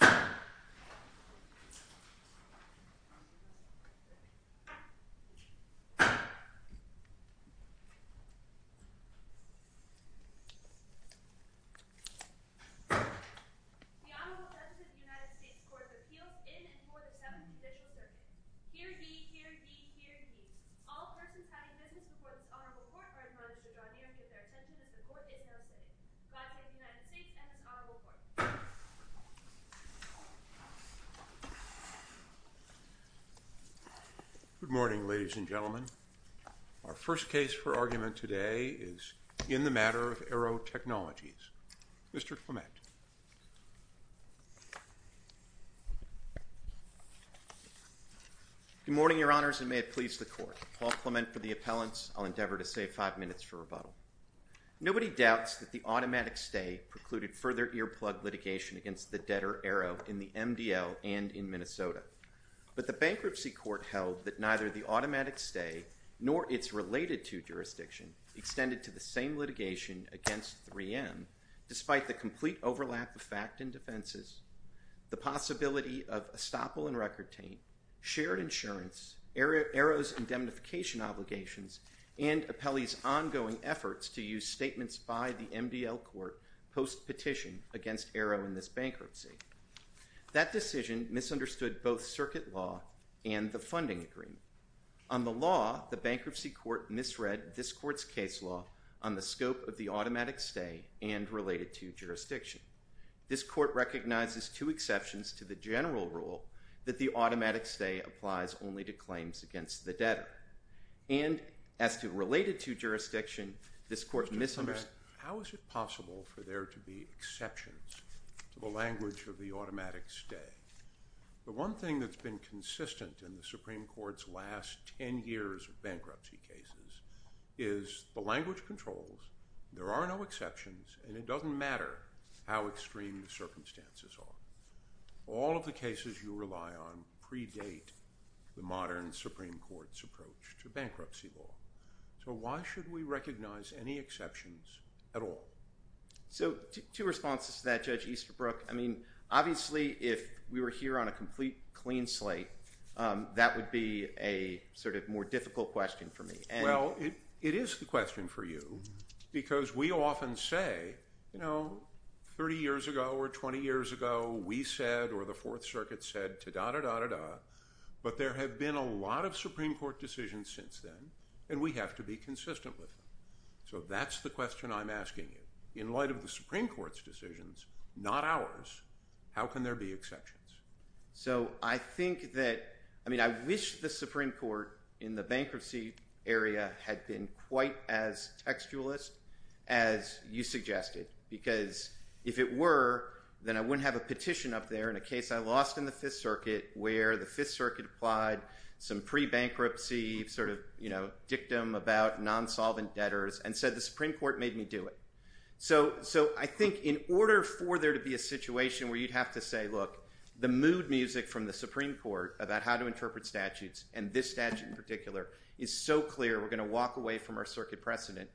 The Honorable Justice of the United States Court of Appeals in and for the Seventh Judicial Circuit. Hear ye, hear ye, hear ye. All persons having business before this Honorable Court are admonished to draw near and give their assent to the court in no sitting. Glad to have the United States and this Honorable Court. Good morning, ladies and gentlemen. Our first case for argument today is in the matter of Aearo Technologies. Mr. Clement. Good morning, Your Honors, and may it please the Court. Paul Clement for the appellants. I'll endeavor to save five minutes for rebuttal. Nobody doubts that the automatic stay precluded further earplug litigation against the debtor Aearo in the MDL and in Minnesota. But the bankruptcy court held that neither the automatic stay nor its related to jurisdiction extended to the same litigation against 3M, despite the complete overlap of fact and defenses, the possibility of estoppel and record taint, shared insurance, Aearo's indemnification obligations, and Apelli's ongoing efforts to use statements by the MDL court post-petition against Aearo in this bankruptcy. That decision misunderstood both circuit law and the funding agreement. On the law, the bankruptcy court misread this court's case law on the scope of the automatic stay and related to jurisdiction. This court recognizes two exceptions to the general rule that the automatic stay applies only to claims against the debtor. And as to related to jurisdiction, this court misunderstood. How is it possible for there to be exceptions to the language of the automatic stay? The one thing that's been consistent in the Supreme Court's last 10 years of bankruptcy cases is the language controls, there are no exceptions, and it doesn't matter how extreme the circumstances are. All of the cases you rely on predate the modern Supreme Court's approach to bankruptcy law. So why should we recognize any exceptions at all? So two responses to that, Judge Easterbrook. I mean, obviously, if we were here on a complete clean slate, that would be a sort of more difficult question for me. Well, it is the question for you because we often say, you know, 30 years ago or 20 years ago, we said or the Fourth Circuit said, da-da-da-da-da. But there have been a lot of Supreme Court decisions since then, and we have to be consistent with them. So that's the question I'm asking you. In light of the Supreme Court's decisions, not ours, how can there be exceptions? So I think that – I mean, I wish the Supreme Court in the bankruptcy area had been quite as textualist as you suggested because if it were, then I wouldn't have a petition up there in a case I lost in the Fifth Circuit where the Fifth Circuit applied some pre-bankruptcy sort of, you know, dictum about non-solvent debtors and said the Supreme Court made me do it. So I think in order for there to be a situation where you'd have to say, look, the mood music from the Supreme Court about how to interpret statutes and this statute in particular is so clear we're going to walk away from our circuit precedent,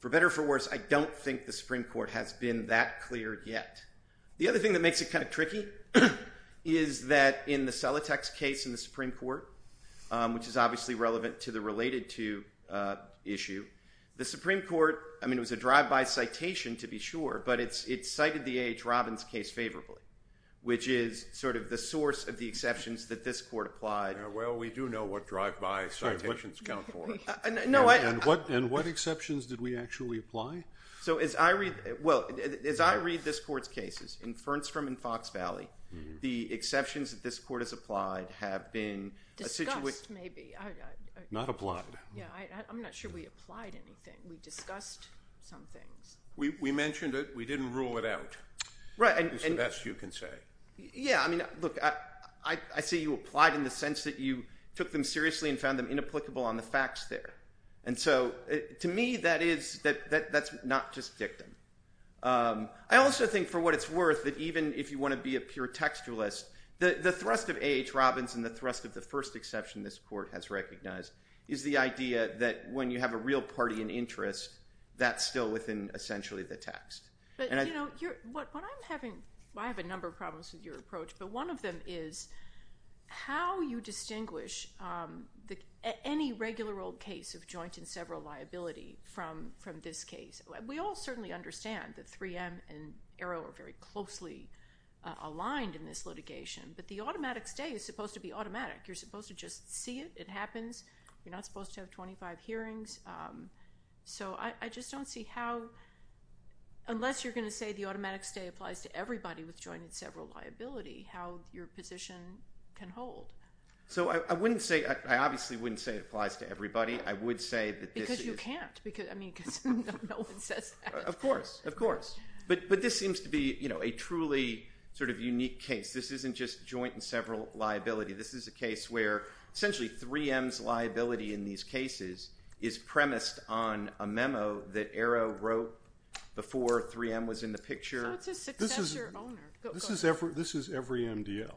for better or for worse, I don't think the Supreme Court has been that clear yet. The other thing that makes it kind of tricky is that in the Celotex case in the Supreme Court, which is obviously relevant to the related to issue, the Supreme Court – I mean it was a drive-by citation to be sure, but it cited the A.H. Robbins case favorably, which is sort of the source of the exceptions that this court applied. Well, we do know what drive-by citations count for. No, I – And what exceptions did we actually apply? So as I read – well, as I read this court's cases in Fernstrom and Fox Valley, the exceptions that this court has applied have been – Discussed maybe. Not applied. Yeah, I'm not sure we applied anything. We discussed some things. We mentioned it. We didn't rule it out. Right. It's the best you can say. Yeah, I mean, look, I see you applied in the sense that you took them seriously and found them inapplicable on the facts there. And so to me that is – that's not just dictum. I also think for what it's worth that even if you want to be a pure textualist, the thrust of A.H. Robbins and the thrust of the first exception this court has recognized is the idea that when you have a real party in interest, that's still within essentially the text. But, you know, what I'm having – I have a number of problems with your approach, but one of them is how you distinguish any regular old case of joint and several liability from this case. We all certainly understand that 3M and Arrow are very closely aligned in this litigation, but the automatic stay is supposed to be automatic. You're supposed to just see it. It happens. You're not supposed to have 25 hearings. So I just don't see how – unless you're going to say the automatic stay applies to everybody with joint and several liability, how your position can hold. So I wouldn't say – I obviously wouldn't say it applies to everybody. I would say that this is – Of course. Of course. But this seems to be, you know, a truly sort of unique case. This isn't just joint and several liability. This is a case where essentially 3M's liability in these cases is premised on a memo that Arrow wrote before 3M was in the picture. So it's a successor owner. This is every MDL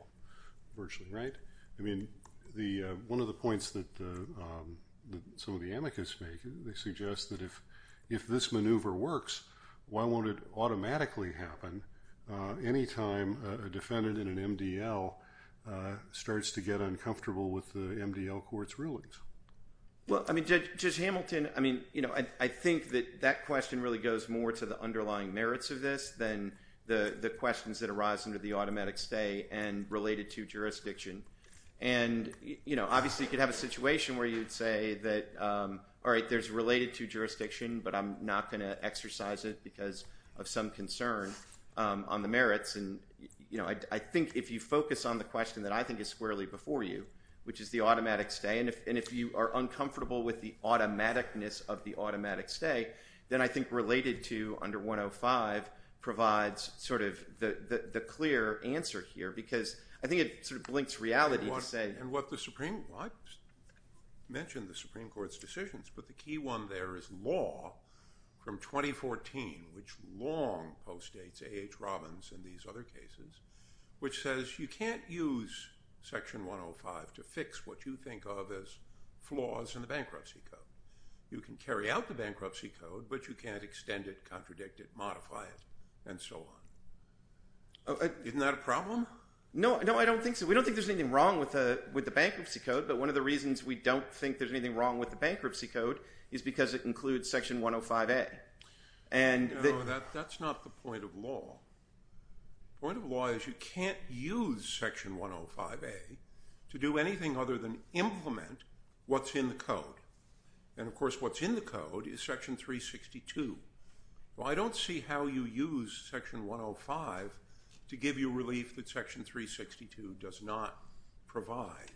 virtually, right? I mean, one of the points that some of the amicus make, they suggest that if this maneuver works, why won't it automatically happen any time a defendant in an MDL starts to get uncomfortable with the MDL court's rulings? Well, I mean, Judge Hamilton, I mean, you know, I think that that question really goes more to the underlying merits of this than the questions that arise under the automatic stay and related to jurisdiction. And, you know, obviously you could have a situation where you'd say that, all right, there's related to jurisdiction, but I'm not going to exercise it because of some concern on the merits. And, you know, I think if you focus on the question that I think is squarely before you, which is the automatic stay, and if you are uncomfortable with the automaticness of the automatic stay, then I think related to under 105 provides sort of the clear answer here because I think it sort of blinks reality to say. And what the Supreme – I mentioned the Supreme Court's decisions, but the key one there is law from 2014, which long postdates A.H. Robbins and these other cases, which says you can't use Section 105 to fix what you think of as flaws in the bankruptcy code. You can carry out the bankruptcy code, but you can't extend it, contradict it, modify it, and so on. Isn't that a problem? No, I don't think so. We don't think there's anything wrong with the bankruptcy code, but one of the reasons we don't think there's anything wrong with the bankruptcy code is because it includes Section 105A. No, that's not the point of law. The point of law is you can't use Section 105A to do anything other than implement what's in the code, and of course what's in the code is Section 362. Well, I don't see how you use Section 105 to give you relief that Section 362 does not provide.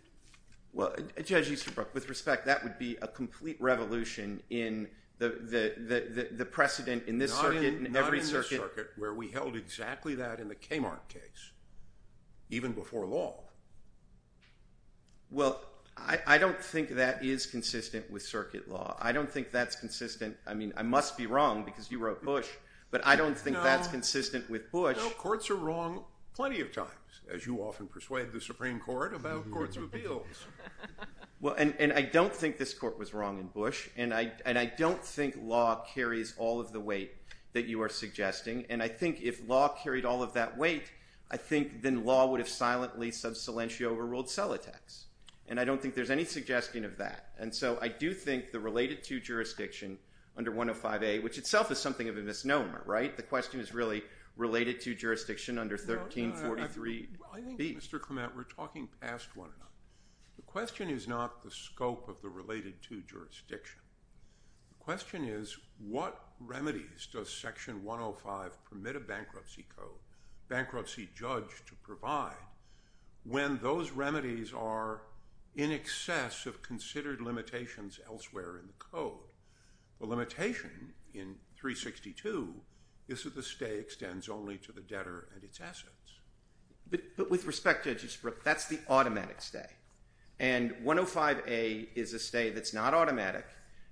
Well, Judge Easterbrook, with respect, that would be a complete revolution in the precedent in this circuit and every circuit. We held exactly that in the Kmart case, even before law. Well, I don't think that is consistent with circuit law. I don't think that's consistent. I mean, I must be wrong because you wrote Bush, but I don't think that's consistent with Bush. No, courts are wrong plenty of times, as you often persuade the Supreme Court about courts of appeals. Well, and I don't think this court was wrong in Bush, and I don't think law carries all of the weight that you are suggesting, and I think if law carried all of that weight, I think then law would have silently sub silentio overruled cell attacks, and I don't think there's any suggestion of that. And so I do think the related to jurisdiction under 105A, which itself is something of a misnomer, right? The question is really related to jurisdiction under 1343B. I think, Mr. Clement, we're talking past one another. The question is not the scope of the related to jurisdiction. The question is what remedies does section 105 permit a bankruptcy code, bankruptcy judge to provide, when those remedies are in excess of considered limitations elsewhere in the code? The limitation in 362 is that the stay extends only to the debtor and its assets. But with respect, Judge Eastbrook, that's the automatic stay, and 105A is a stay that's not automatic.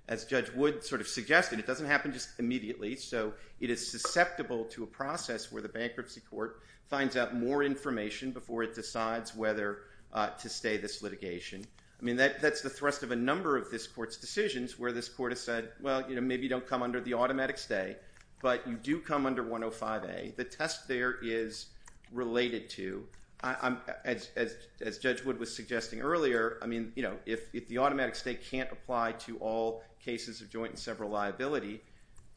As Judge Wood sort of suggested, it doesn't happen just immediately, so it is susceptible to a process where the bankruptcy court finds out more information before it decides whether to stay this litigation. I mean, that's the thrust of a number of this court's decisions where this court has said, well, you know, maybe you don't come under the automatic stay, but you do come under 105A. The test there is related to, as Judge Wood was suggesting earlier, I mean, you know, if the automatic stay can't apply to all cases of joint and several liability,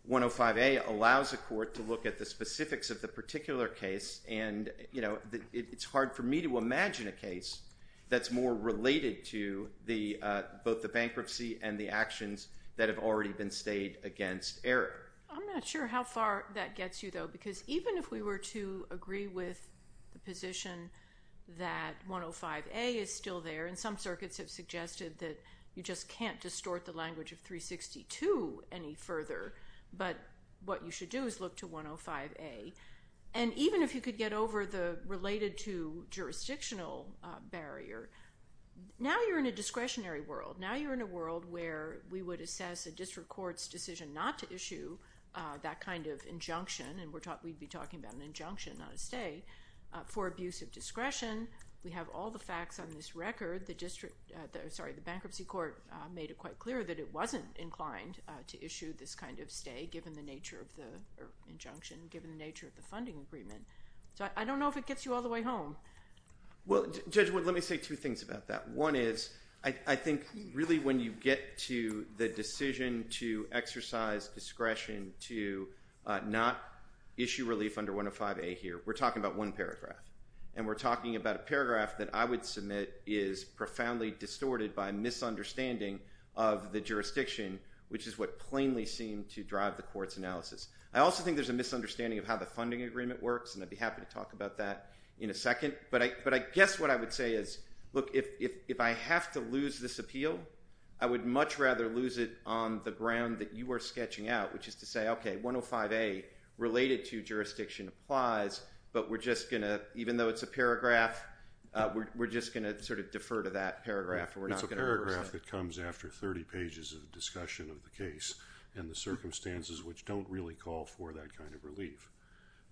105A allows a court to look at the specifics of the particular case, and, you know, it's hard for me to imagine a case that's more related to both the bankruptcy and the actions that have already been stayed against Eric. I'm not sure how far that gets you, though, because even if we were to agree with the position that 105A is still there, and some circuits have suggested that you just can't distort the language of 362 any further, but what you should do is look to 105A. And even if you could get over the related to jurisdictional barrier, now you're in a discretionary world. Now you're in a world where we would assess a district court's decision not to issue that kind of injunction, and we'd be talking about an injunction, not a stay, for abuse of discretion. We have all the facts on this record. The bankruptcy court made it quite clear that it wasn't inclined to issue this kind of stay, given the nature of the injunction, given the nature of the funding agreement. So I don't know if it gets you all the way home. Well, Judge Wood, let me say two things about that. One is I think really when you get to the decision to exercise discretion to not issue relief under 105A here, we're talking about one paragraph. And we're talking about a paragraph that I would submit is profoundly distorted by misunderstanding of the jurisdiction, which is what plainly seemed to drive the court's analysis. I also think there's a misunderstanding of how the funding agreement works, and I'd be happy to talk about that in a second. But I guess what I would say is, look, if I have to lose this appeal, I would much rather lose it on the ground that you are sketching out, which is to say, okay, 105A related to jurisdiction applies, but we're just going to, even though it's a paragraph, we're just going to sort of defer to that paragraph. It's a paragraph that comes after 30 pages of discussion of the case and the circumstances which don't really call for that kind of relief.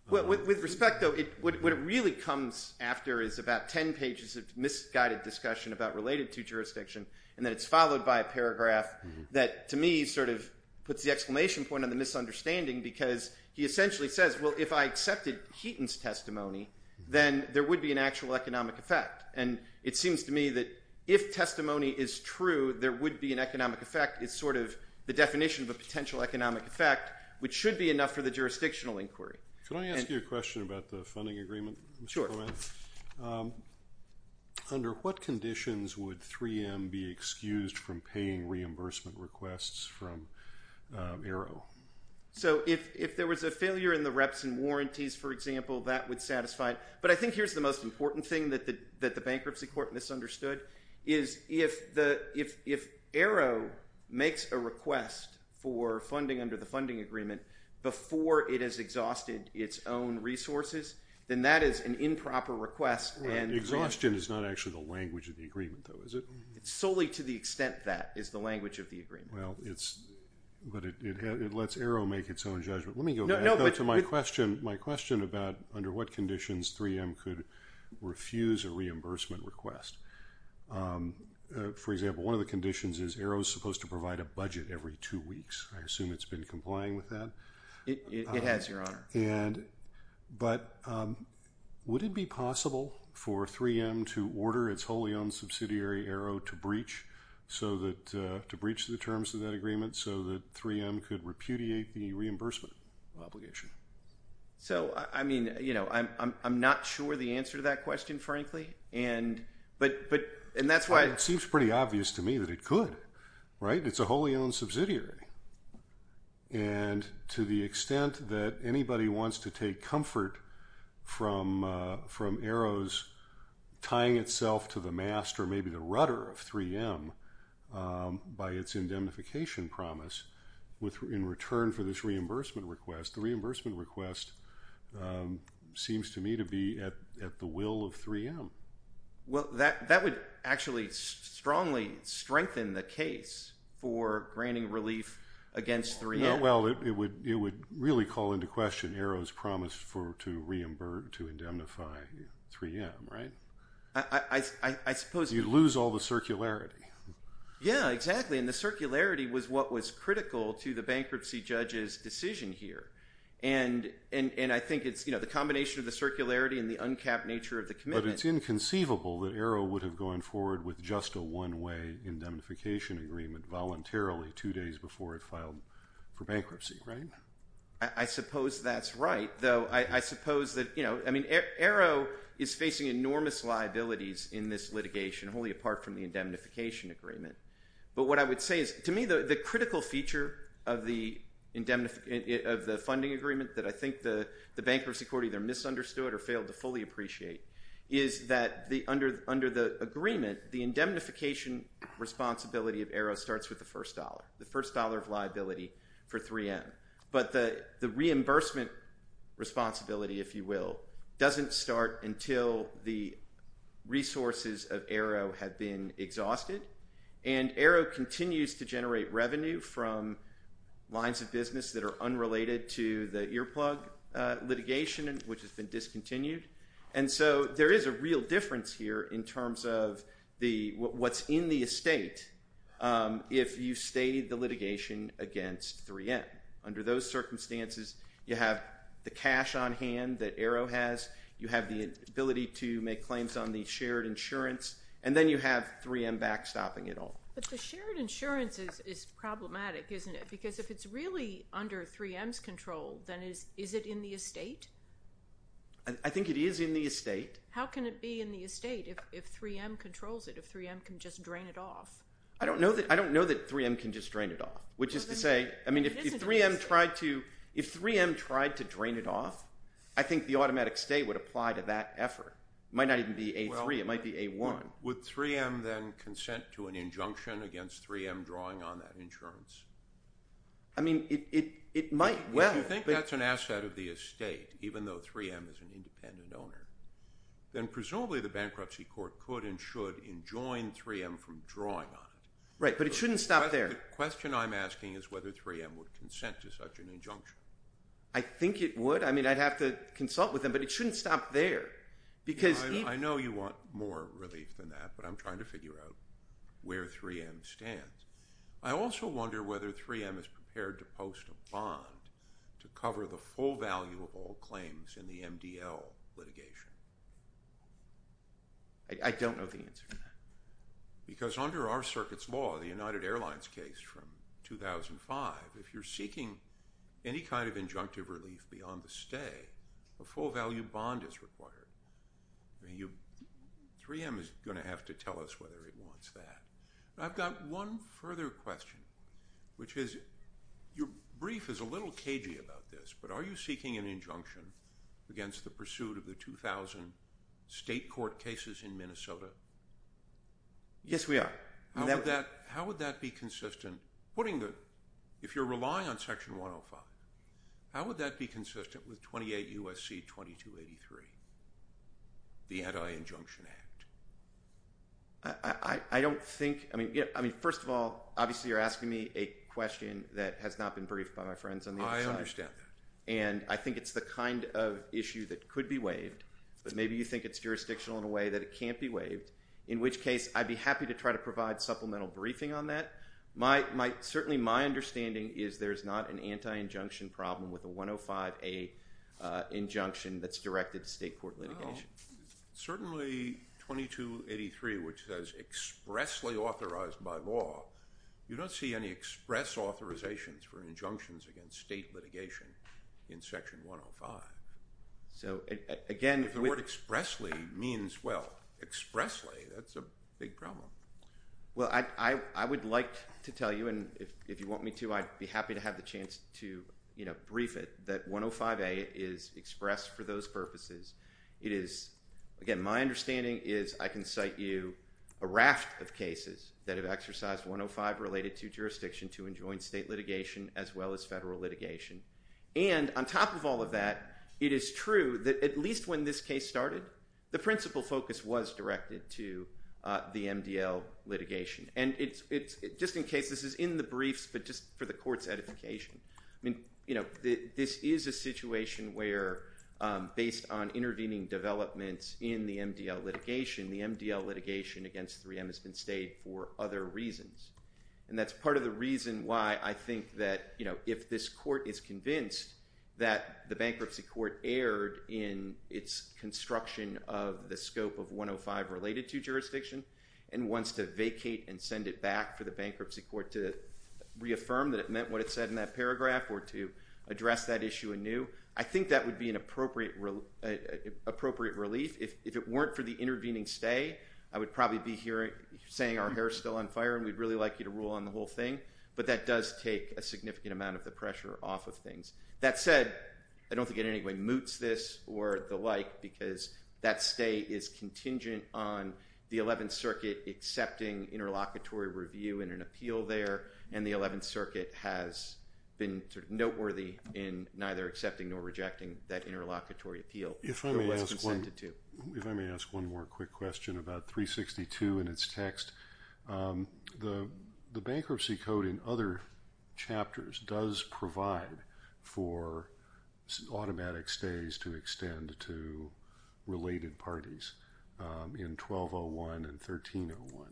With respect, though, what it really comes after is about 10 pages of misguided discussion about related to jurisdiction, and then it's followed by a paragraph that to me sort of puts the exclamation point on the misunderstanding because he essentially says, well, if I accepted Heaton's testimony, then there would be an actual economic effect. And it seems to me that if testimony is true, there would be an economic effect. It's sort of the definition of a potential economic effect, which should be enough for the jurisdictional inquiry. Can I ask you a question about the funding agreement? Sure. Under what conditions would 3M be excused from paying reimbursement requests from AERO? So if there was a failure in the reps and warranties, for example, that would satisfy it. But I think here's the most important thing that the bankruptcy court misunderstood, is if AERO makes a request for funding under the funding agreement before it has exhausted its own resources, then that is an improper request. Exhaustion is not actually the language of the agreement, though, is it? Solely to the extent that is the language of the agreement. Well, but it lets AERO make its own judgment. Let me go back to my question about under what conditions 3M could refuse a reimbursement request. For example, one of the conditions is AERO is supposed to provide a budget every two weeks. I assume it's been complying with that. It has, Your Honor. But would it be possible for 3M to order its wholly owned subsidiary, AERO, to breach the terms of that agreement so that 3M could repudiate the reimbursement obligation? So, I mean, you know, I'm not sure the answer to that question, frankly. And that's why— It seems pretty obvious to me that it could, right? It's a wholly owned subsidiary. And to the extent that anybody wants to take comfort from AERO's tying itself to the mast or maybe the rudder of 3M by its indemnification promise in return for this reimbursement request, the reimbursement request seems to me to be at the will of 3M. Well, that would actually strongly strengthen the case for granting relief against 3M. Well, it would really call into question AERO's promise to indemnify 3M, right? I suppose— You'd lose all the circularity. Yeah, exactly. And the circularity was what was critical to the bankruptcy judge's decision here. And I think it's, you know, the combination of the circularity and the uncapped nature of the commitment— But it's inconceivable that AERO would have gone forward with just a one-way indemnification agreement voluntarily two days before it filed for bankruptcy, right? I suppose that's right, though. I mean, AERO is facing enormous liabilities in this litigation, wholly apart from the indemnification agreement. But what I would say is, to me, the critical feature of the funding agreement that I think the bankruptcy court either misunderstood or failed to fully appreciate is that under the agreement, the indemnification responsibility of AERO starts with the first dollar, the first dollar of liability for 3M. But the reimbursement responsibility, if you will, doesn't start until the resources of AERO have been exhausted. And AERO continues to generate revenue from lines of business that are unrelated to the earplug litigation, which has been discontinued. And so there is a real difference here in terms of what's in the estate if you've stated the litigation against 3M. Under those circumstances, you have the cash on hand that AERO has. You have the ability to make claims on the shared insurance. And then you have 3M backstopping it all. But the shared insurance is problematic, isn't it? Because if it's really under 3M's control, then is it in the estate? I think it is in the estate. How can it be in the estate if 3M controls it, if 3M can just drain it off? I don't know that 3M can just drain it off, which is to say, I mean, if 3M tried to drain it off, I think the automatic stay would apply to that effort. It might not even be A3. It might be A1. Would 3M then consent to an injunction against 3M drawing on that insurance? I mean, it might well. If you think that's an asset of the estate, even though 3M is an independent owner, then presumably the bankruptcy court could and should enjoin 3M from drawing on it. Right, but it shouldn't stop there. The question I'm asking is whether 3M would consent to such an injunction. I think it would. I mean, I'd have to consult with them, but it shouldn't stop there. I know you want more relief than that, but I'm trying to figure out where 3M stands. I also wonder whether 3M is prepared to post a bond to cover the full value of all claims in the MDL litigation. I don't know the answer to that. Because under our circuit's law, the United Airlines case from 2005, if you're seeking any kind of injunctive relief beyond the stay, a full-value bond is required. I mean, 3M is going to have to tell us whether it wants that. I've got one further question, which is your brief is a little cagey about this, but are you seeking an injunction against the pursuit of the 2,000 state court cases in Minnesota? Yes, we are. How would that be consistent? If you're relying on Section 105, how would that be consistent with 28 U.S.C. 2283, the Anti-Injunction Act? I don't think ‑‑ I mean, first of all, obviously you're asking me a question that has not been briefed by my friends on the other side. I understand that. And I think it's the kind of issue that could be waived, but maybe you think it's jurisdictional in a way that it can't be waived, in which case I'd be happy to try to provide supplemental briefing on that. Certainly my understanding is there's not an anti-injunction problem with a 105A injunction that's directed to state court litigation. Certainly 2283, which says expressly authorized by law, you don't see any express authorizations for injunctions against state litigation in Section 105. So, again ‑‑ If the word expressly means, well, expressly, that's a big problem. Well, I would like to tell you, and if you want me to, I'd be happy to have the chance to, you know, Again, my understanding is I can cite you a raft of cases that have exercised 105 related to jurisdiction to enjoin state litigation, as well as federal litigation. And on top of all of that, it is true that at least when this case started, the principal focus was directed to the MDL litigation. And just in case, this is in the briefs, but just for the court's edification, I mean, you know, this is a situation where based on intervening developments in the MDL litigation, the MDL litigation against 3M has been stayed for other reasons. And that's part of the reason why I think that, you know, if this court is convinced that the bankruptcy court erred in its construction of the scope of 105 related to jurisdiction and wants to vacate and send it back for the bankruptcy court to reaffirm that it meant what it said in that paragraph or to address that issue anew, I think that would be an appropriate relief. If it weren't for the intervening stay, I would probably be here saying our hair is still on fire and we'd really like you to rule on the whole thing. But that does take a significant amount of the pressure off of things. That said, I don't think in any way moots this or the like because that stay is contingent on the 11th Circuit accepting interlocutory review and an appeal there. And the 11th Circuit has been noteworthy in neither accepting nor rejecting that interlocutory appeal. If I may ask one more quick question about 362 and its text. The bankruptcy code in other chapters does provide for automatic stays to extend to related parties in 1201 and 1301.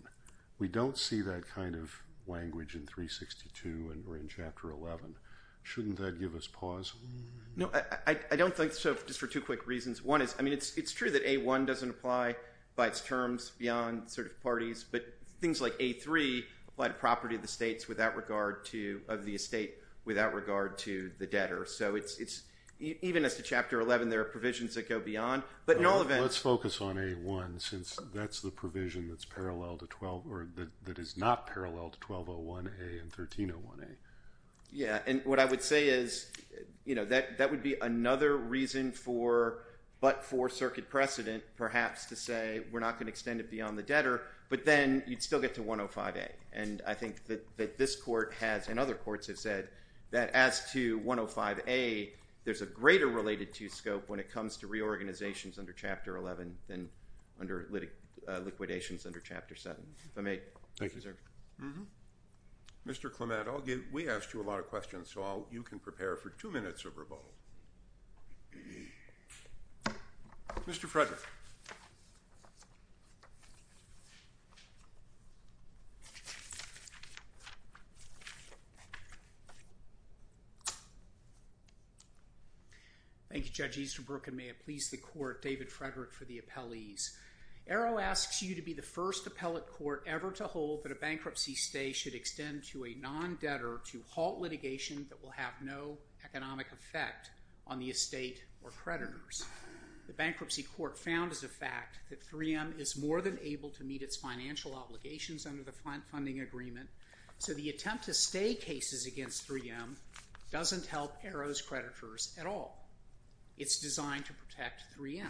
We don't see that kind of language in 362 or in Chapter 11. Shouldn't that give us pause? No, I don't think so just for two quick reasons. One is it's true that A1 doesn't apply by its terms beyond parties, but things like A3 apply to property of the estate without regard to the debtor. So even as to Chapter 11, there are provisions that go beyond. Let's focus on A1 since that's the provision that is not parallel to 1201A and 1301A. Yeah, and what I would say is, you know, that would be another reason for but for circuit precedent perhaps to say we're not going to extend it beyond the debtor, but then you'd still get to 105A. And I think that this court has and other courts have said that as to 105A, there's a greater related to scope when it comes to reorganizations under Chapter 11 than under liquidations under Chapter 7. If I may. Thank you. Mr. Clement, we asked you a lot of questions, so you can prepare for two minutes of rebuttal. Mr. Frederick. Thank you, Judge Easterbrook, and may it please the court, David Frederick for the appellees. Arrow asks you to be the first appellate court ever to hold that a bankruptcy stay should extend to a non-debtor to halt litigation that will have no economic effect on the estate or creditors. The bankruptcy court found as a fact that 3M is more than able to meet its financial obligations under the funding agreement, so the attempt to stay cases against 3M doesn't help Arrow's creditors at all. It's designed to protect 3M.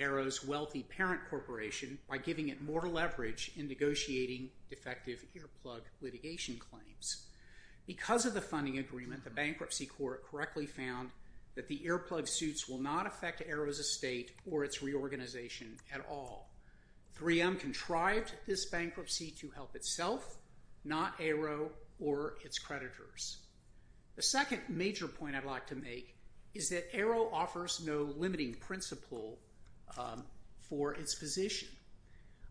Arrow's wealthy parent corporation by giving it more leverage in negotiating defective earplug litigation claims. Because of the funding agreement, the bankruptcy court correctly found that the earplug suits will not affect Arrow's estate or its reorganization at all. 3M contrived this bankruptcy to help itself, not Arrow or its creditors. The second major point I'd like to make is that Arrow offers no limiting principle for its position.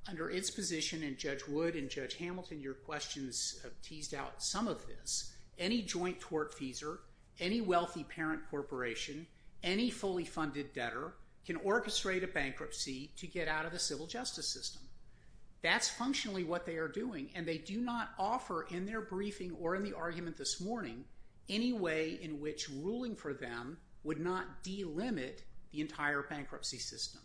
Under its position, and Judge Wood and Judge Hamilton, your questions have teased out some of this, any joint tort feeser, any wealthy parent corporation, any fully funded debtor can orchestrate a bankruptcy to get out of the civil justice system. That's functionally what they are doing, and they do not offer in their briefing or in the argument this morning any way in which ruling for them would not delimit the entire bankruptcy system.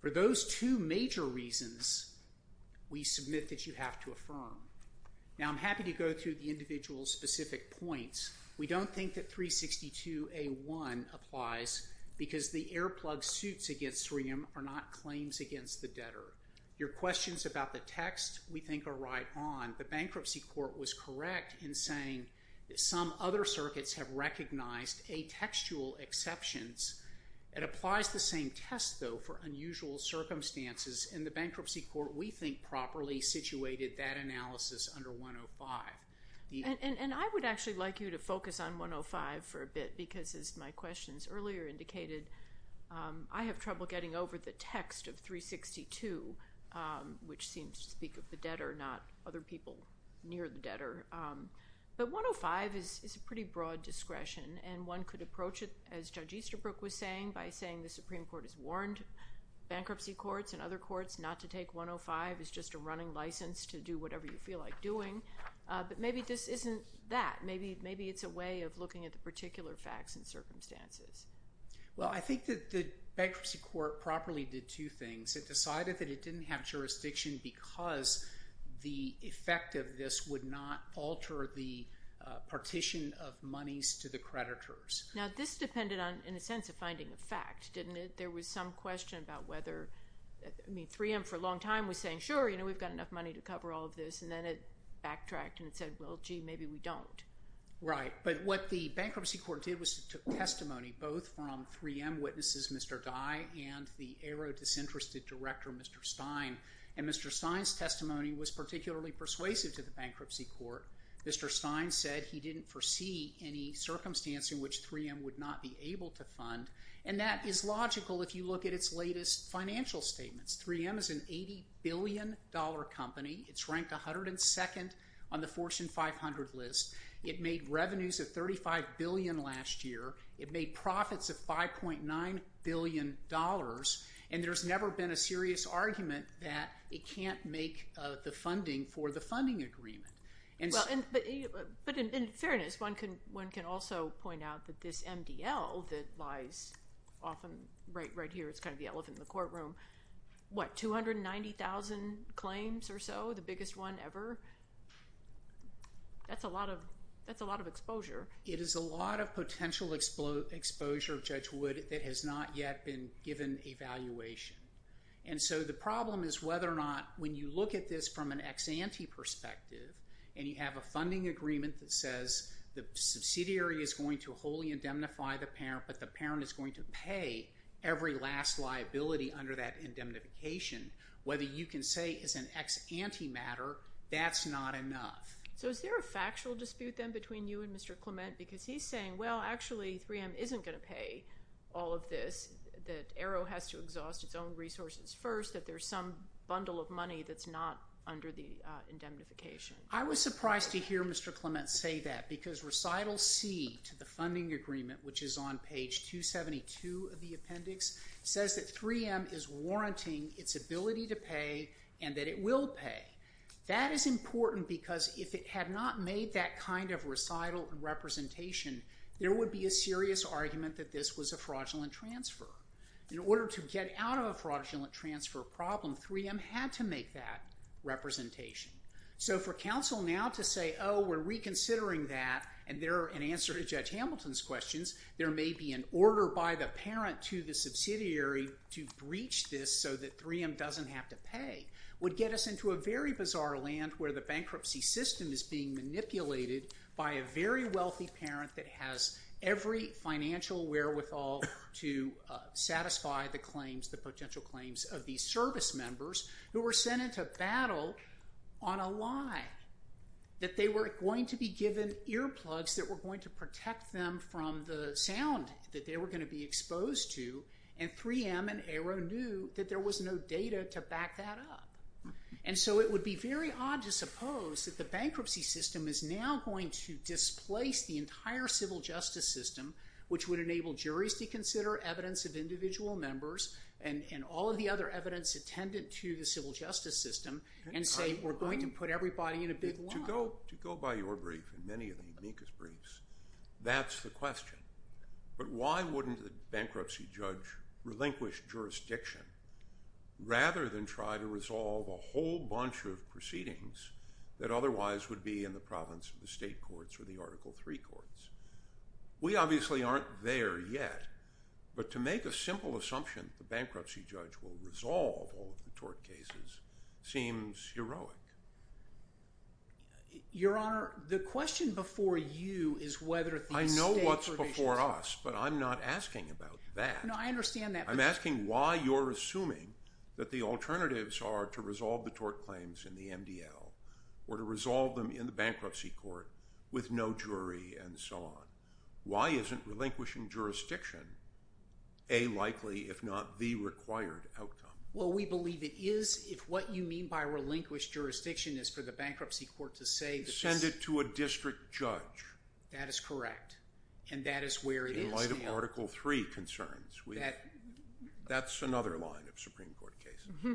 For those two major reasons, we submit that you have to affirm. Now, I'm happy to go through the individual specific points. We don't think that 362A1 applies because the earplug suits against 3M are not claims against the debtor. Your questions about the text we think are right on. The bankruptcy court was correct in saying that some other circuits have recognized atextual exceptions. It applies the same test, though, for unusual circumstances, and the bankruptcy court, we think, properly situated that analysis under 105. And I would actually like you to focus on 105 for a bit because, as my questions earlier indicated, I have trouble getting over the text of 362, which seems to speak of the debtor, not other people near the debtor. But 105 is a pretty broad discretion, and one could approach it, as Judge Easterbrook was saying, by saying the Supreme Court has warned bankruptcy courts and other courts not to take 105 as just a running license to do whatever you feel like doing. But maybe this isn't that. Maybe it's a way of looking at the particular facts and circumstances. Well, I think that the bankruptcy court properly did two things. It decided that it didn't have jurisdiction because the effect of this would not alter the partition of monies to the creditors. Now, this depended on, in a sense, a finding of fact, didn't it? But there was some question about whether 3M, for a long time, was saying, sure, we've got enough money to cover all of this. And then it backtracked and said, well, gee, maybe we don't. Right. But what the bankruptcy court did was it took testimony both from 3M witnesses, Mr. Dye, and the aero-disinterested director, Mr. Stein. And Mr. Stein's testimony was particularly persuasive to the bankruptcy court. Mr. Stein said he didn't foresee any circumstance in which 3M would not be able to fund. And that is logical if you look at its latest financial statements. 3M is an $80 billion company. It's ranked 102nd on the Fortune 500 list. It made revenues of $35 billion last year. It made profits of $5.9 billion. And there's never been a serious argument that it can't make the funding for the funding agreement. But in fairness, one can also point out that this MDL that lies often right here, it's kind of the elephant in the courtroom, what, 290,000 claims or so, the biggest one ever? That's a lot of exposure. It is a lot of potential exposure, Judge Wood, that has not yet been given evaluation. And so the problem is whether or not when you look at this from an ex-ante perspective and you have a funding agreement that says the subsidiary is going to wholly indemnify the parent but the parent is going to pay every last liability under that indemnification, whether you can say it's an ex-ante matter, that's not enough. So is there a factual dispute then between you and Mr. Clement? Because he's saying, well, actually, 3M isn't going to pay all of this, that Arrow has to exhaust its own resources first, that there's some bundle of money that's not under the indemnification. I was surprised to hear Mr. Clement say that because recital C to the funding agreement, which is on page 272 of the appendix, says that 3M is warranting its ability to pay and that it will pay. That is important because if it had not made that kind of recital representation, there would be a serious argument that this was a fraudulent transfer. In order to get out of a fraudulent transfer problem, 3M had to make that representation. So for counsel now to say, oh, we're reconsidering that, and in answer to Judge Hamilton's questions, there may be an order by the parent to the subsidiary to breach this so that 3M doesn't have to pay would get us into a very bizarre land where the bankruptcy system is being manipulated by a very wealthy parent that has every financial wherewithal to satisfy the claims, the potential claims of these service members who were sent into battle on a lie, that they were going to be given earplugs that were going to protect them from the sound that they were going to be exposed to, and 3M and Arrow knew that there was no data to back that up. And so it would be very odd to suppose that the bankruptcy system is now going to displace the entire civil justice system, which would enable juries to consider evidence of individual members and all of the other evidence attendant to the civil justice system and say we're going to put everybody in a big lump. To go by your brief and many of the amicus briefs, that's the question. But why wouldn't the bankruptcy judge relinquish jurisdiction rather than try to resolve a whole bunch of proceedings that otherwise would be in the province of the state courts or the Article III courts? We obviously aren't there yet, but to make a simple assumption that the bankruptcy judge will resolve all of the tort cases seems heroic. Your Honor, the question before you is whether the state… I know what's before us, but I'm not asking about that. No, I understand that. I'm asking why you're assuming that the alternatives are to resolve the tort claims in the MDL or to resolve them in the bankruptcy court with no jury and so on. Why isn't relinquishing jurisdiction a likely if not the required outcome? Well, we believe it is if what you mean by relinquished jurisdiction is for the bankruptcy court to say that this… Send it to a district judge. That is correct, and that is where it is now. Article III concerns. That's another line of Supreme Court case.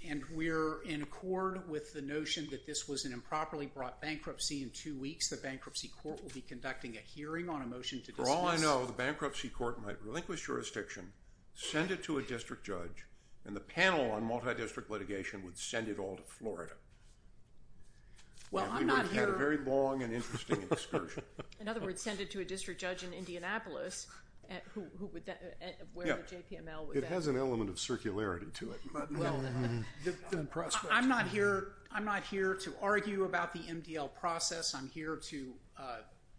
And we're in accord with the notion that this was an improperly brought bankruptcy in two weeks. The bankruptcy court will be conducting a hearing on a motion to dismiss… For all I know, the bankruptcy court might relinquish jurisdiction, send it to a district judge, and the panel on multidistrict litigation would send it all to Florida. Well, I'm not here… We would have a very long and interesting excursion. In other words, send it to a district judge in Indianapolis. It has an element of circularity to it. I'm not here to argue about the MDL process. I'm here to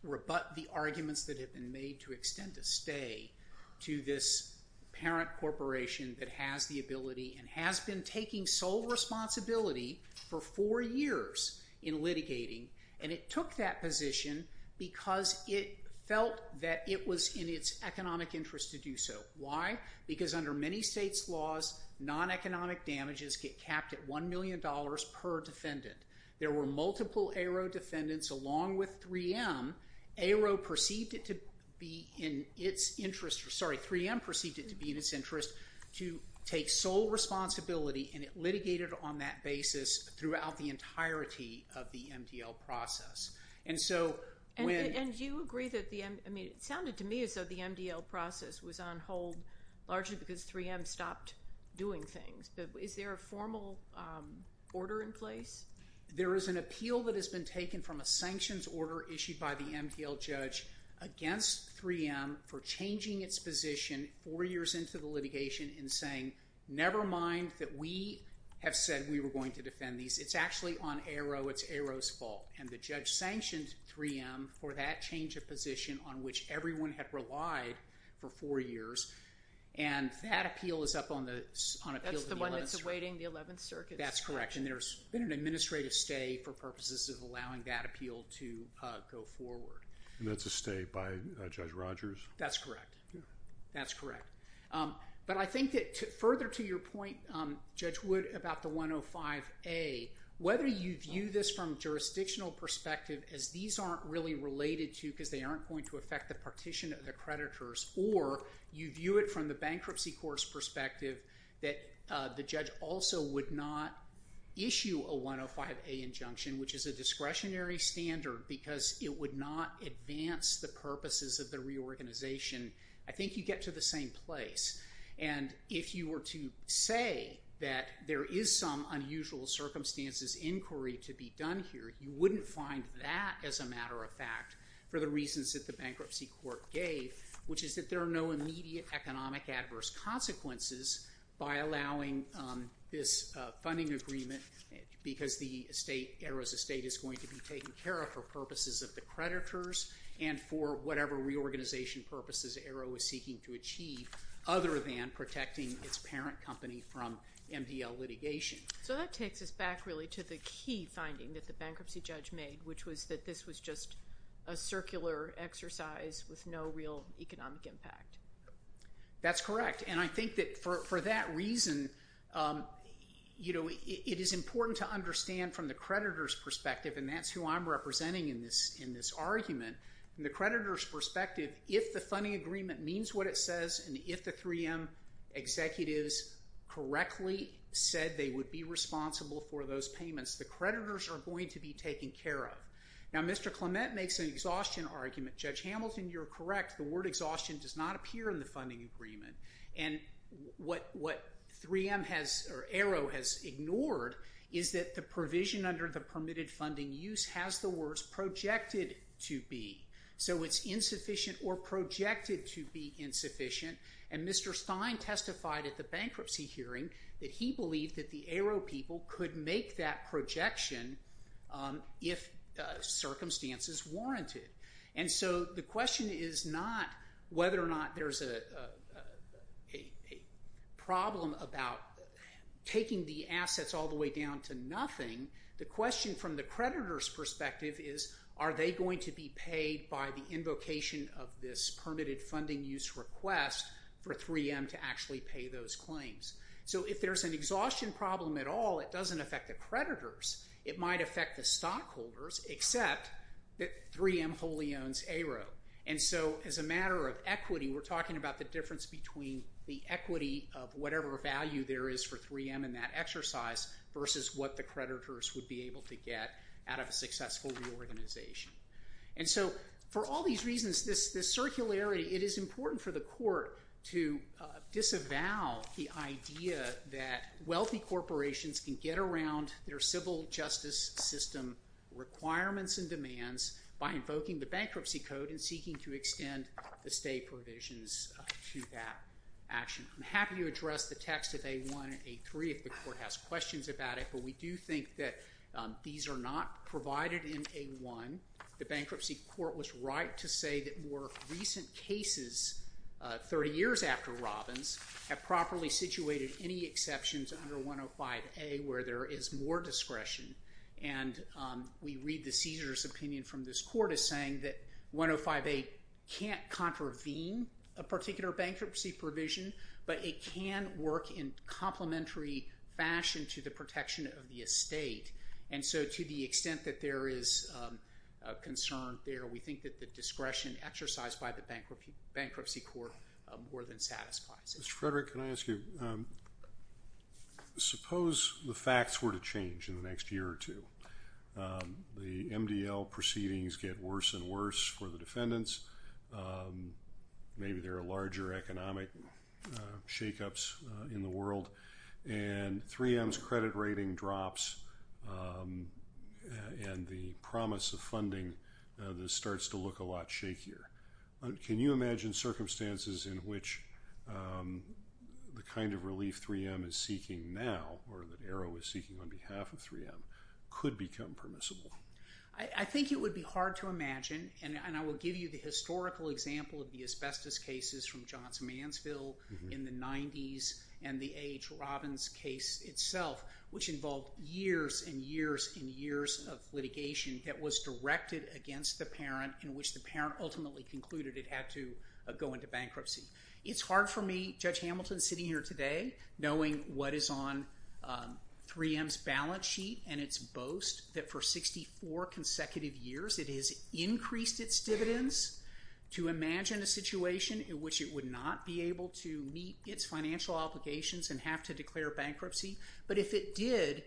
rebut the arguments that have been made to extend a stay to this parent corporation that has the ability and has been taking sole responsibility for four years in litigating, and it took that position because it felt that it was in its economic interest to do so. Why? Because under many states' laws, non-economic damages get capped at $1 million per defendant. There were multiple ARO defendants along with 3M. ARO perceived it to be in its interest… Sorry, 3M perceived it to be in its interest to take sole responsibility, and it litigated on that basis throughout the entirety of the MDL process. And so when… And do you agree that the… I mean, it sounded to me as though the MDL process was on hold largely because 3M stopped doing things, but is there a formal order in place? There is an appeal that has been taken from a sanctions order issued by the MDL judge against 3M for changing its position four years into the litigation in saying, never mind that we have said we were going to defend these. It's actually on ARO. It's ARO's fault. And the judge sanctioned 3M for that change of position on which everyone had relied for four years, and that appeal is up on the… That's the one that's awaiting the Eleventh Circuit. That's correct, and there's been an administrative stay for purposes of allowing that appeal to go forward. And that's a stay by Judge Rogers? That's correct. That's correct. But I think that further to your point, Judge Wood, about the 105A, whether you view this from a jurisdictional perspective as these aren't really related to because they aren't going to affect the partition of the creditors or you view it from the bankruptcy court's perspective that the judge also would not issue a 105A injunction, which is a discretionary standard because it would not advance the purposes of the reorganization. I think you get to the same place, and if you were to say that there is some unusual circumstances inquiry to be done here, you wouldn't find that as a matter of fact for the reasons that the bankruptcy court gave, which is that there are no immediate economic adverse consequences by allowing this funding agreement because the state, ARO's estate, is going to be taken care of for purposes of the creditors and for whatever reorganization purposes ARO is seeking to achieve other than protecting its parent company from MDL litigation. So that takes us back really to the key finding that the bankruptcy judge made, which was that this was just a circular exercise with no real economic impact. That's correct. And I think that for that reason, it is important to understand from the creditor's perspective, and that's who I'm representing in this argument, from the creditor's perspective, if the funding agreement means what it says and if the 3M executives correctly said they would be responsible for those payments, the creditors are going to be taken care of. Now, Mr. Clement makes an exhaustion argument. Judge Hamilton, you're correct. The word exhaustion does not appear in the funding agreement. And what 3M has or ARO has ignored is that the provision under the permitted funding use has the words projected to be. So it's insufficient or projected to be insufficient. And Mr. Stein testified at the bankruptcy hearing that he believed that the ARO people could make that projection if circumstances warranted. And so the question is not whether or not there's a problem about taking the assets all the way down to nothing. The question from the creditor's perspective is, are they going to be paid by the invocation of this permitted funding use request for 3M to actually pay those claims? So if there's an exhaustion problem at all, it doesn't affect the creditors. It might affect the stockholders, except that 3M wholly owns ARO. And so as a matter of equity, we're talking about the difference between the equity of whatever value there is for 3M in that exercise versus what the creditors would be able to get out of a successful reorganization. And so for all these reasons, this circularity, it is important for the court to disavow the idea that wealthy corporations can get around their civil justice system requirements and demands by invoking the bankruptcy code and seeking to extend the stay provisions to that action. I'm happy to address the text of A1 and A3 if the court has questions about it, but we do think that these are not provided in A1. The bankruptcy court was right to say that more recent cases, 30 years after Robbins, have properly situated any exceptions under 105A where there is more discretion. And we read the caesar's opinion from this court as saying that 105A can't contravene a particular bankruptcy provision, but it can work in complementary fashion to the protection of the estate. And so to the extent that there is a concern there, we think that the discretion exercised by the bankruptcy court more than satisfies it. Mr. Frederick, can I ask you, suppose the facts were to change in the next year or two. The MDL proceedings get worse and worse for the defendants. Maybe there are larger economic shakeups in the world and 3M's credit rating drops and the promise of funding starts to look a lot shakier. Can you imagine circumstances in which the kind of relief 3M is seeking now or that Arrow is seeking on behalf of 3M could become permissible? I think it would be hard to imagine, and I will give you the historical example of the asbestos cases from Johnson Mansfield in the 90s and the A.H. Robbins case itself, which involved years and years and years of litigation that was directed against the parent in which the parent ultimately concluded it had to go into bankruptcy. It's hard for me, Judge Hamilton sitting here today, knowing what is on 3M's balance sheet and its boast that for 64 consecutive years it has increased its dividends to imagine a situation in which it would not be able to meet its financial obligations and have to declare bankruptcy. But if it did,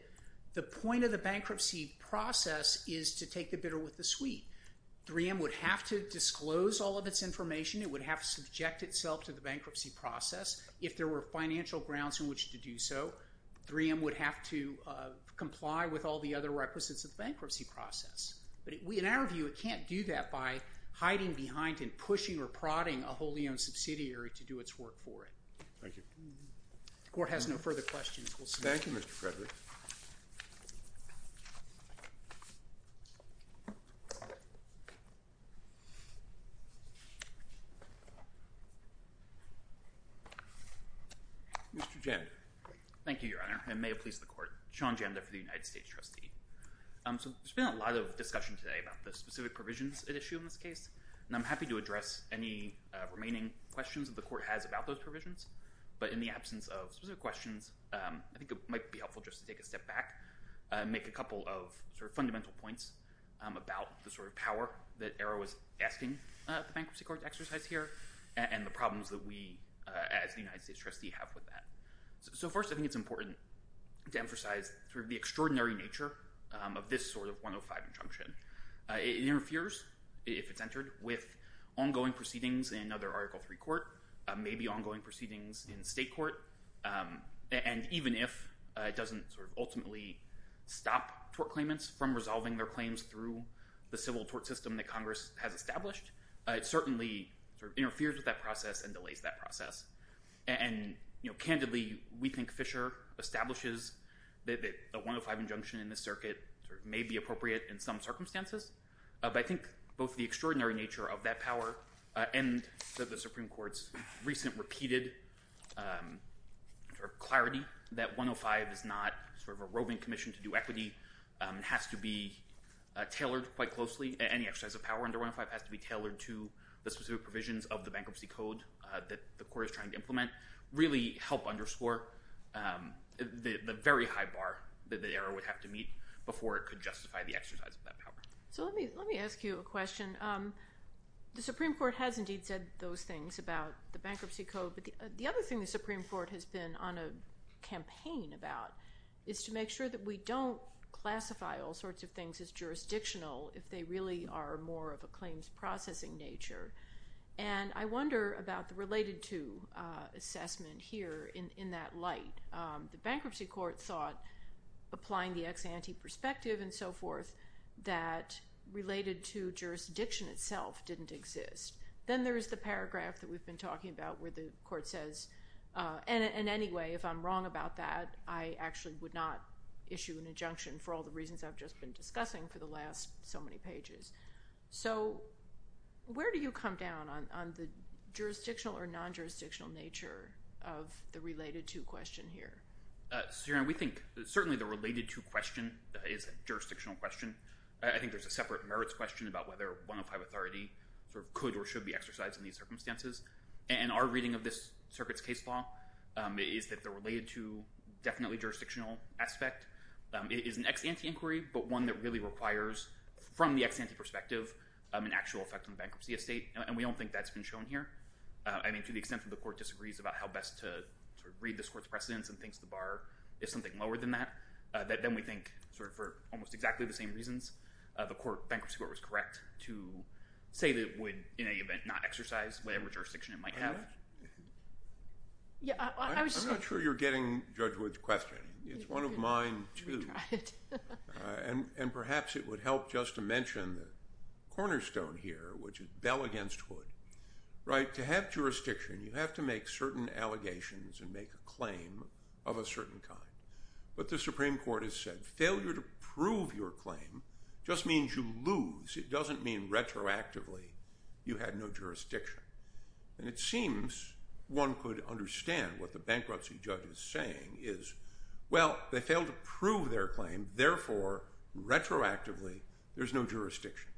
the point of the bankruptcy process is to take the bitter with the sweet. 3M would have to disclose all of its information. It would have to subject itself to the bankruptcy process if there were financial grounds in which to do so. 3M would have to comply with all the other requisites of the bankruptcy process. In our view, it can't do that by hiding behind and pushing or prodding a wholly owned subsidiary to do its work for it. Thank you. The Court has no further questions. Thank you, Mr. Frederick. Mr. Janda. Thank you, Your Honor, and may it please the Court. Sean Janda for the United States Trustee. There's been a lot of discussion today about the specific provisions at issue in this case, and I'm happy to address any remaining questions that the Court has about those provisions. But in the absence of specific questions, I think it might be helpful just to take a step back and make a couple of fundamental points about the sort of power that Arrow is asking the Bankruptcy Court to exercise here and the problems that we, as the United States Trustee, have with that. So first, I think it's important to emphasize the extraordinary nature of this sort of 105 injunction. It interferes, if it's entered, with ongoing proceedings in other Article III court, maybe ongoing proceedings in state court, and even if it doesn't ultimately stop tort claimants from resolving their claims through the civil tort system that Congress has established, it certainly interferes with that process and delays that process. And candidly, we think Fisher establishes that the 105 injunction in this circuit may be appropriate in some circumstances, but I think both the extraordinary nature of that power and the Supreme Court's recent repeated clarity that 105 is not sort of a roving commission to do equity, it has to be tailored quite closely, any exercise of power under 105 has to be tailored to the specific provisions of the Bankruptcy Code that the court is trying to implement, really help underscore the very high bar that Arrow would have to meet before it could justify the exercise of that power. So let me ask you a question. The Supreme Court has indeed said those things about the Bankruptcy Code, but the other thing the Supreme Court has been on a campaign about is to make sure that we don't classify all sorts of things as jurisdictional if they really are more of a claims processing nature. And I wonder about the related-to assessment here in that light. The Bankruptcy Court thought, applying the ex-ante perspective and so forth, that related-to jurisdiction itself didn't exist. Then there is the paragraph that we've been talking about where the court says, and anyway, if I'm wrong about that, I actually would not issue an injunction for all the reasons I've just been discussing for the last so many pages. So where do you come down on the jurisdictional or non-jurisdictional nature of the related-to question here? Your Honor, we think certainly the related-to question is a jurisdictional question. I think there's a separate merits question about whether one-of-five authority could or should be exercised in these circumstances. And our reading of this circuit's case law is that the related-to definitely jurisdictional aspect is an ex-ante inquiry, but one that really requires, from the ex-ante perspective, an actual effect on the bankruptcy estate, and we don't think that's been shown here. I mean, to the extent that the court disagrees about how best to read this court's precedents and thinks the bar is something lower than that, then we think, sort of for almost exactly the same reasons, the Bankruptcy Court was correct to say that it would in any event not exercise whatever jurisdiction it might have. I'm not sure you're getting Judge Wood's question. It's one of mine, too. And perhaps it would help just to mention the cornerstone here, which is Bell against Wood. Right, to have jurisdiction, you have to make certain allegations and make a claim of a certain kind. But the Supreme Court has said failure to prove your claim just means you lose. It doesn't mean retroactively you had no jurisdiction. And it seems one could understand what the bankruptcy judge is saying is, well, they failed to prove their claim, therefore, retroactively, there's no jurisdiction.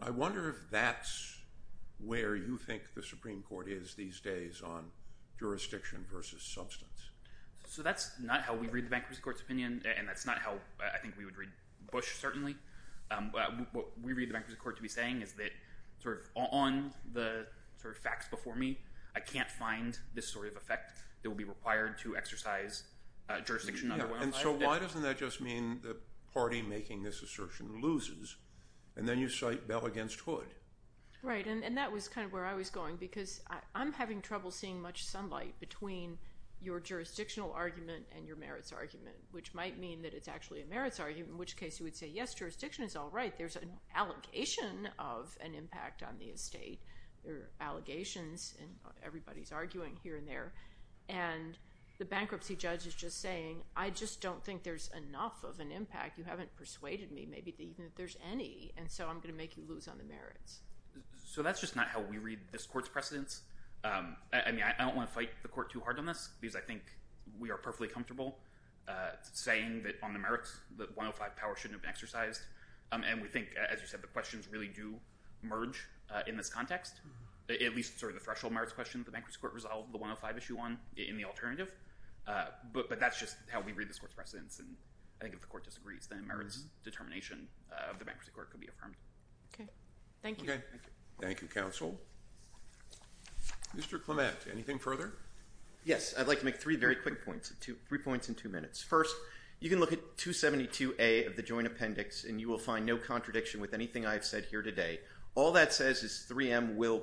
I wonder if that's where you think the Supreme Court is these days on jurisdiction versus substance. So that's not how we read the Bankruptcy Court's opinion, and that's not how I think we would read Bush, certainly. What we read the Bankruptcy Court to be saying is that sort of on the sort of facts before me, I can't find this sort of effect that would be required to exercise jurisdiction. And so why doesn't that just mean the party making this assertion loses, and then you cite Bell against Wood? Right, and that was kind of where I was going because I'm having trouble seeing much sunlight between your jurisdictional argument and your merits argument, which might mean that it's actually a merits argument, in which case you would say, yes, jurisdiction is all right. There's an allegation of an impact on the estate. There are allegations, and everybody's arguing here and there. And the bankruptcy judge is just saying, I just don't think there's enough of an impact. You haven't persuaded me maybe even that there's any, and so I'm going to make you lose on the merits. So that's just not how we read this court's precedence. I mean, I don't want to fight the court too hard on this because I think we are perfectly comfortable saying that on the merits, that 105 power shouldn't have been exercised. And we think, as you said, the questions really do merge in this context, at least sort of the threshold merits question that the bankruptcy court resolved the 105 issue on in the alternative. But that's just how we read this court's precedence. And I think if the court disagrees, then merits determination of the bankruptcy court could be affirmed. Okay. Thank you. Okay. Thank you, counsel. Mr. Clement, anything further? Yes, I'd like to make three very quick points, three points in two minutes. First, you can look at 272A of the joint appendix, and you will find no contradiction with anything I've said here today. All that says is 3M will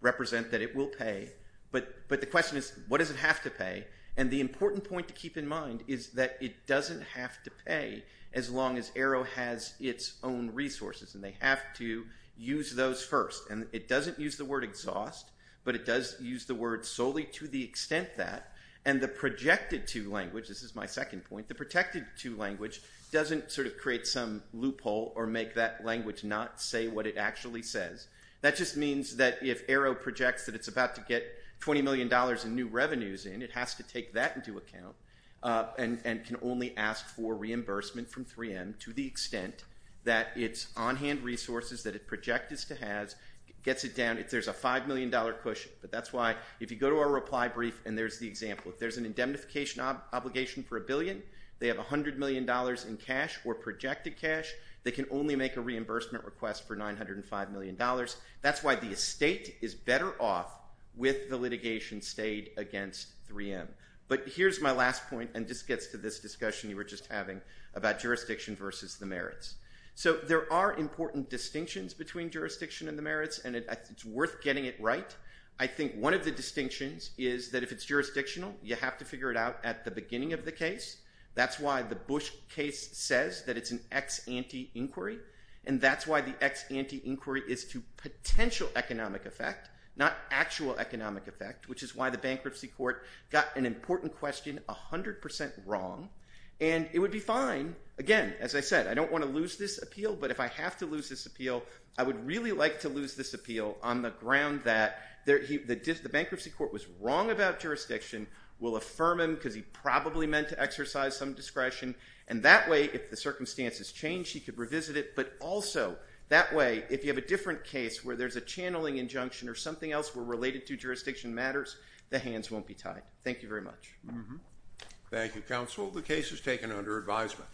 represent that it will pay. But the question is, what does it have to pay? And the important point to keep in mind is that it doesn't have to pay as long as Arrow has its own resources, and they have to use those first. And it doesn't use the word exhaust, but it does use the word solely to the extent that. And the projected-to language, this is my second point, the protected-to language doesn't sort of create some loophole or make that language not say what it actually says. That just means that if Arrow projects that it's about to get $20 million in new revenues in, it has to take that into account and can only ask for reimbursement from 3M to the extent that its on-hand resources that it projected to have gets it down. There's a $5 million cushion, but that's why if you go to our reply brief, and there's the example. If there's an indemnification obligation for a billion, they have $100 million in cash or projected cash. They can only make a reimbursement request for $905 million. That's why the estate is better off with the litigation stayed against 3M. But here's my last point, and this gets to this discussion you were just having about jurisdiction versus the merits. So there are important distinctions between jurisdiction and the merits, and it's worth getting it right. I think one of the distinctions is that if it's jurisdictional, you have to figure it out at the beginning of the case. That's why the Bush case says that it's an ex-ante inquiry, and that's why the ex-ante inquiry is to potential economic effect, not actual economic effect, which is why the bankruptcy court got an important question 100% wrong. And it would be fine, again, as I said, I don't want to lose this appeal, but if I have to lose this appeal, I would really like to lose this appeal on the ground that the bankruptcy court was wrong about jurisdiction, will affirm him because he probably meant to exercise some discretion, and that way, if the circumstances change, he could revisit it, but also that way, if you have a different case where there's a channeling injunction or something else related to jurisdiction matters, the hands won't be tied. Thank you very much. Thank you, counsel. The case is taken under advisement.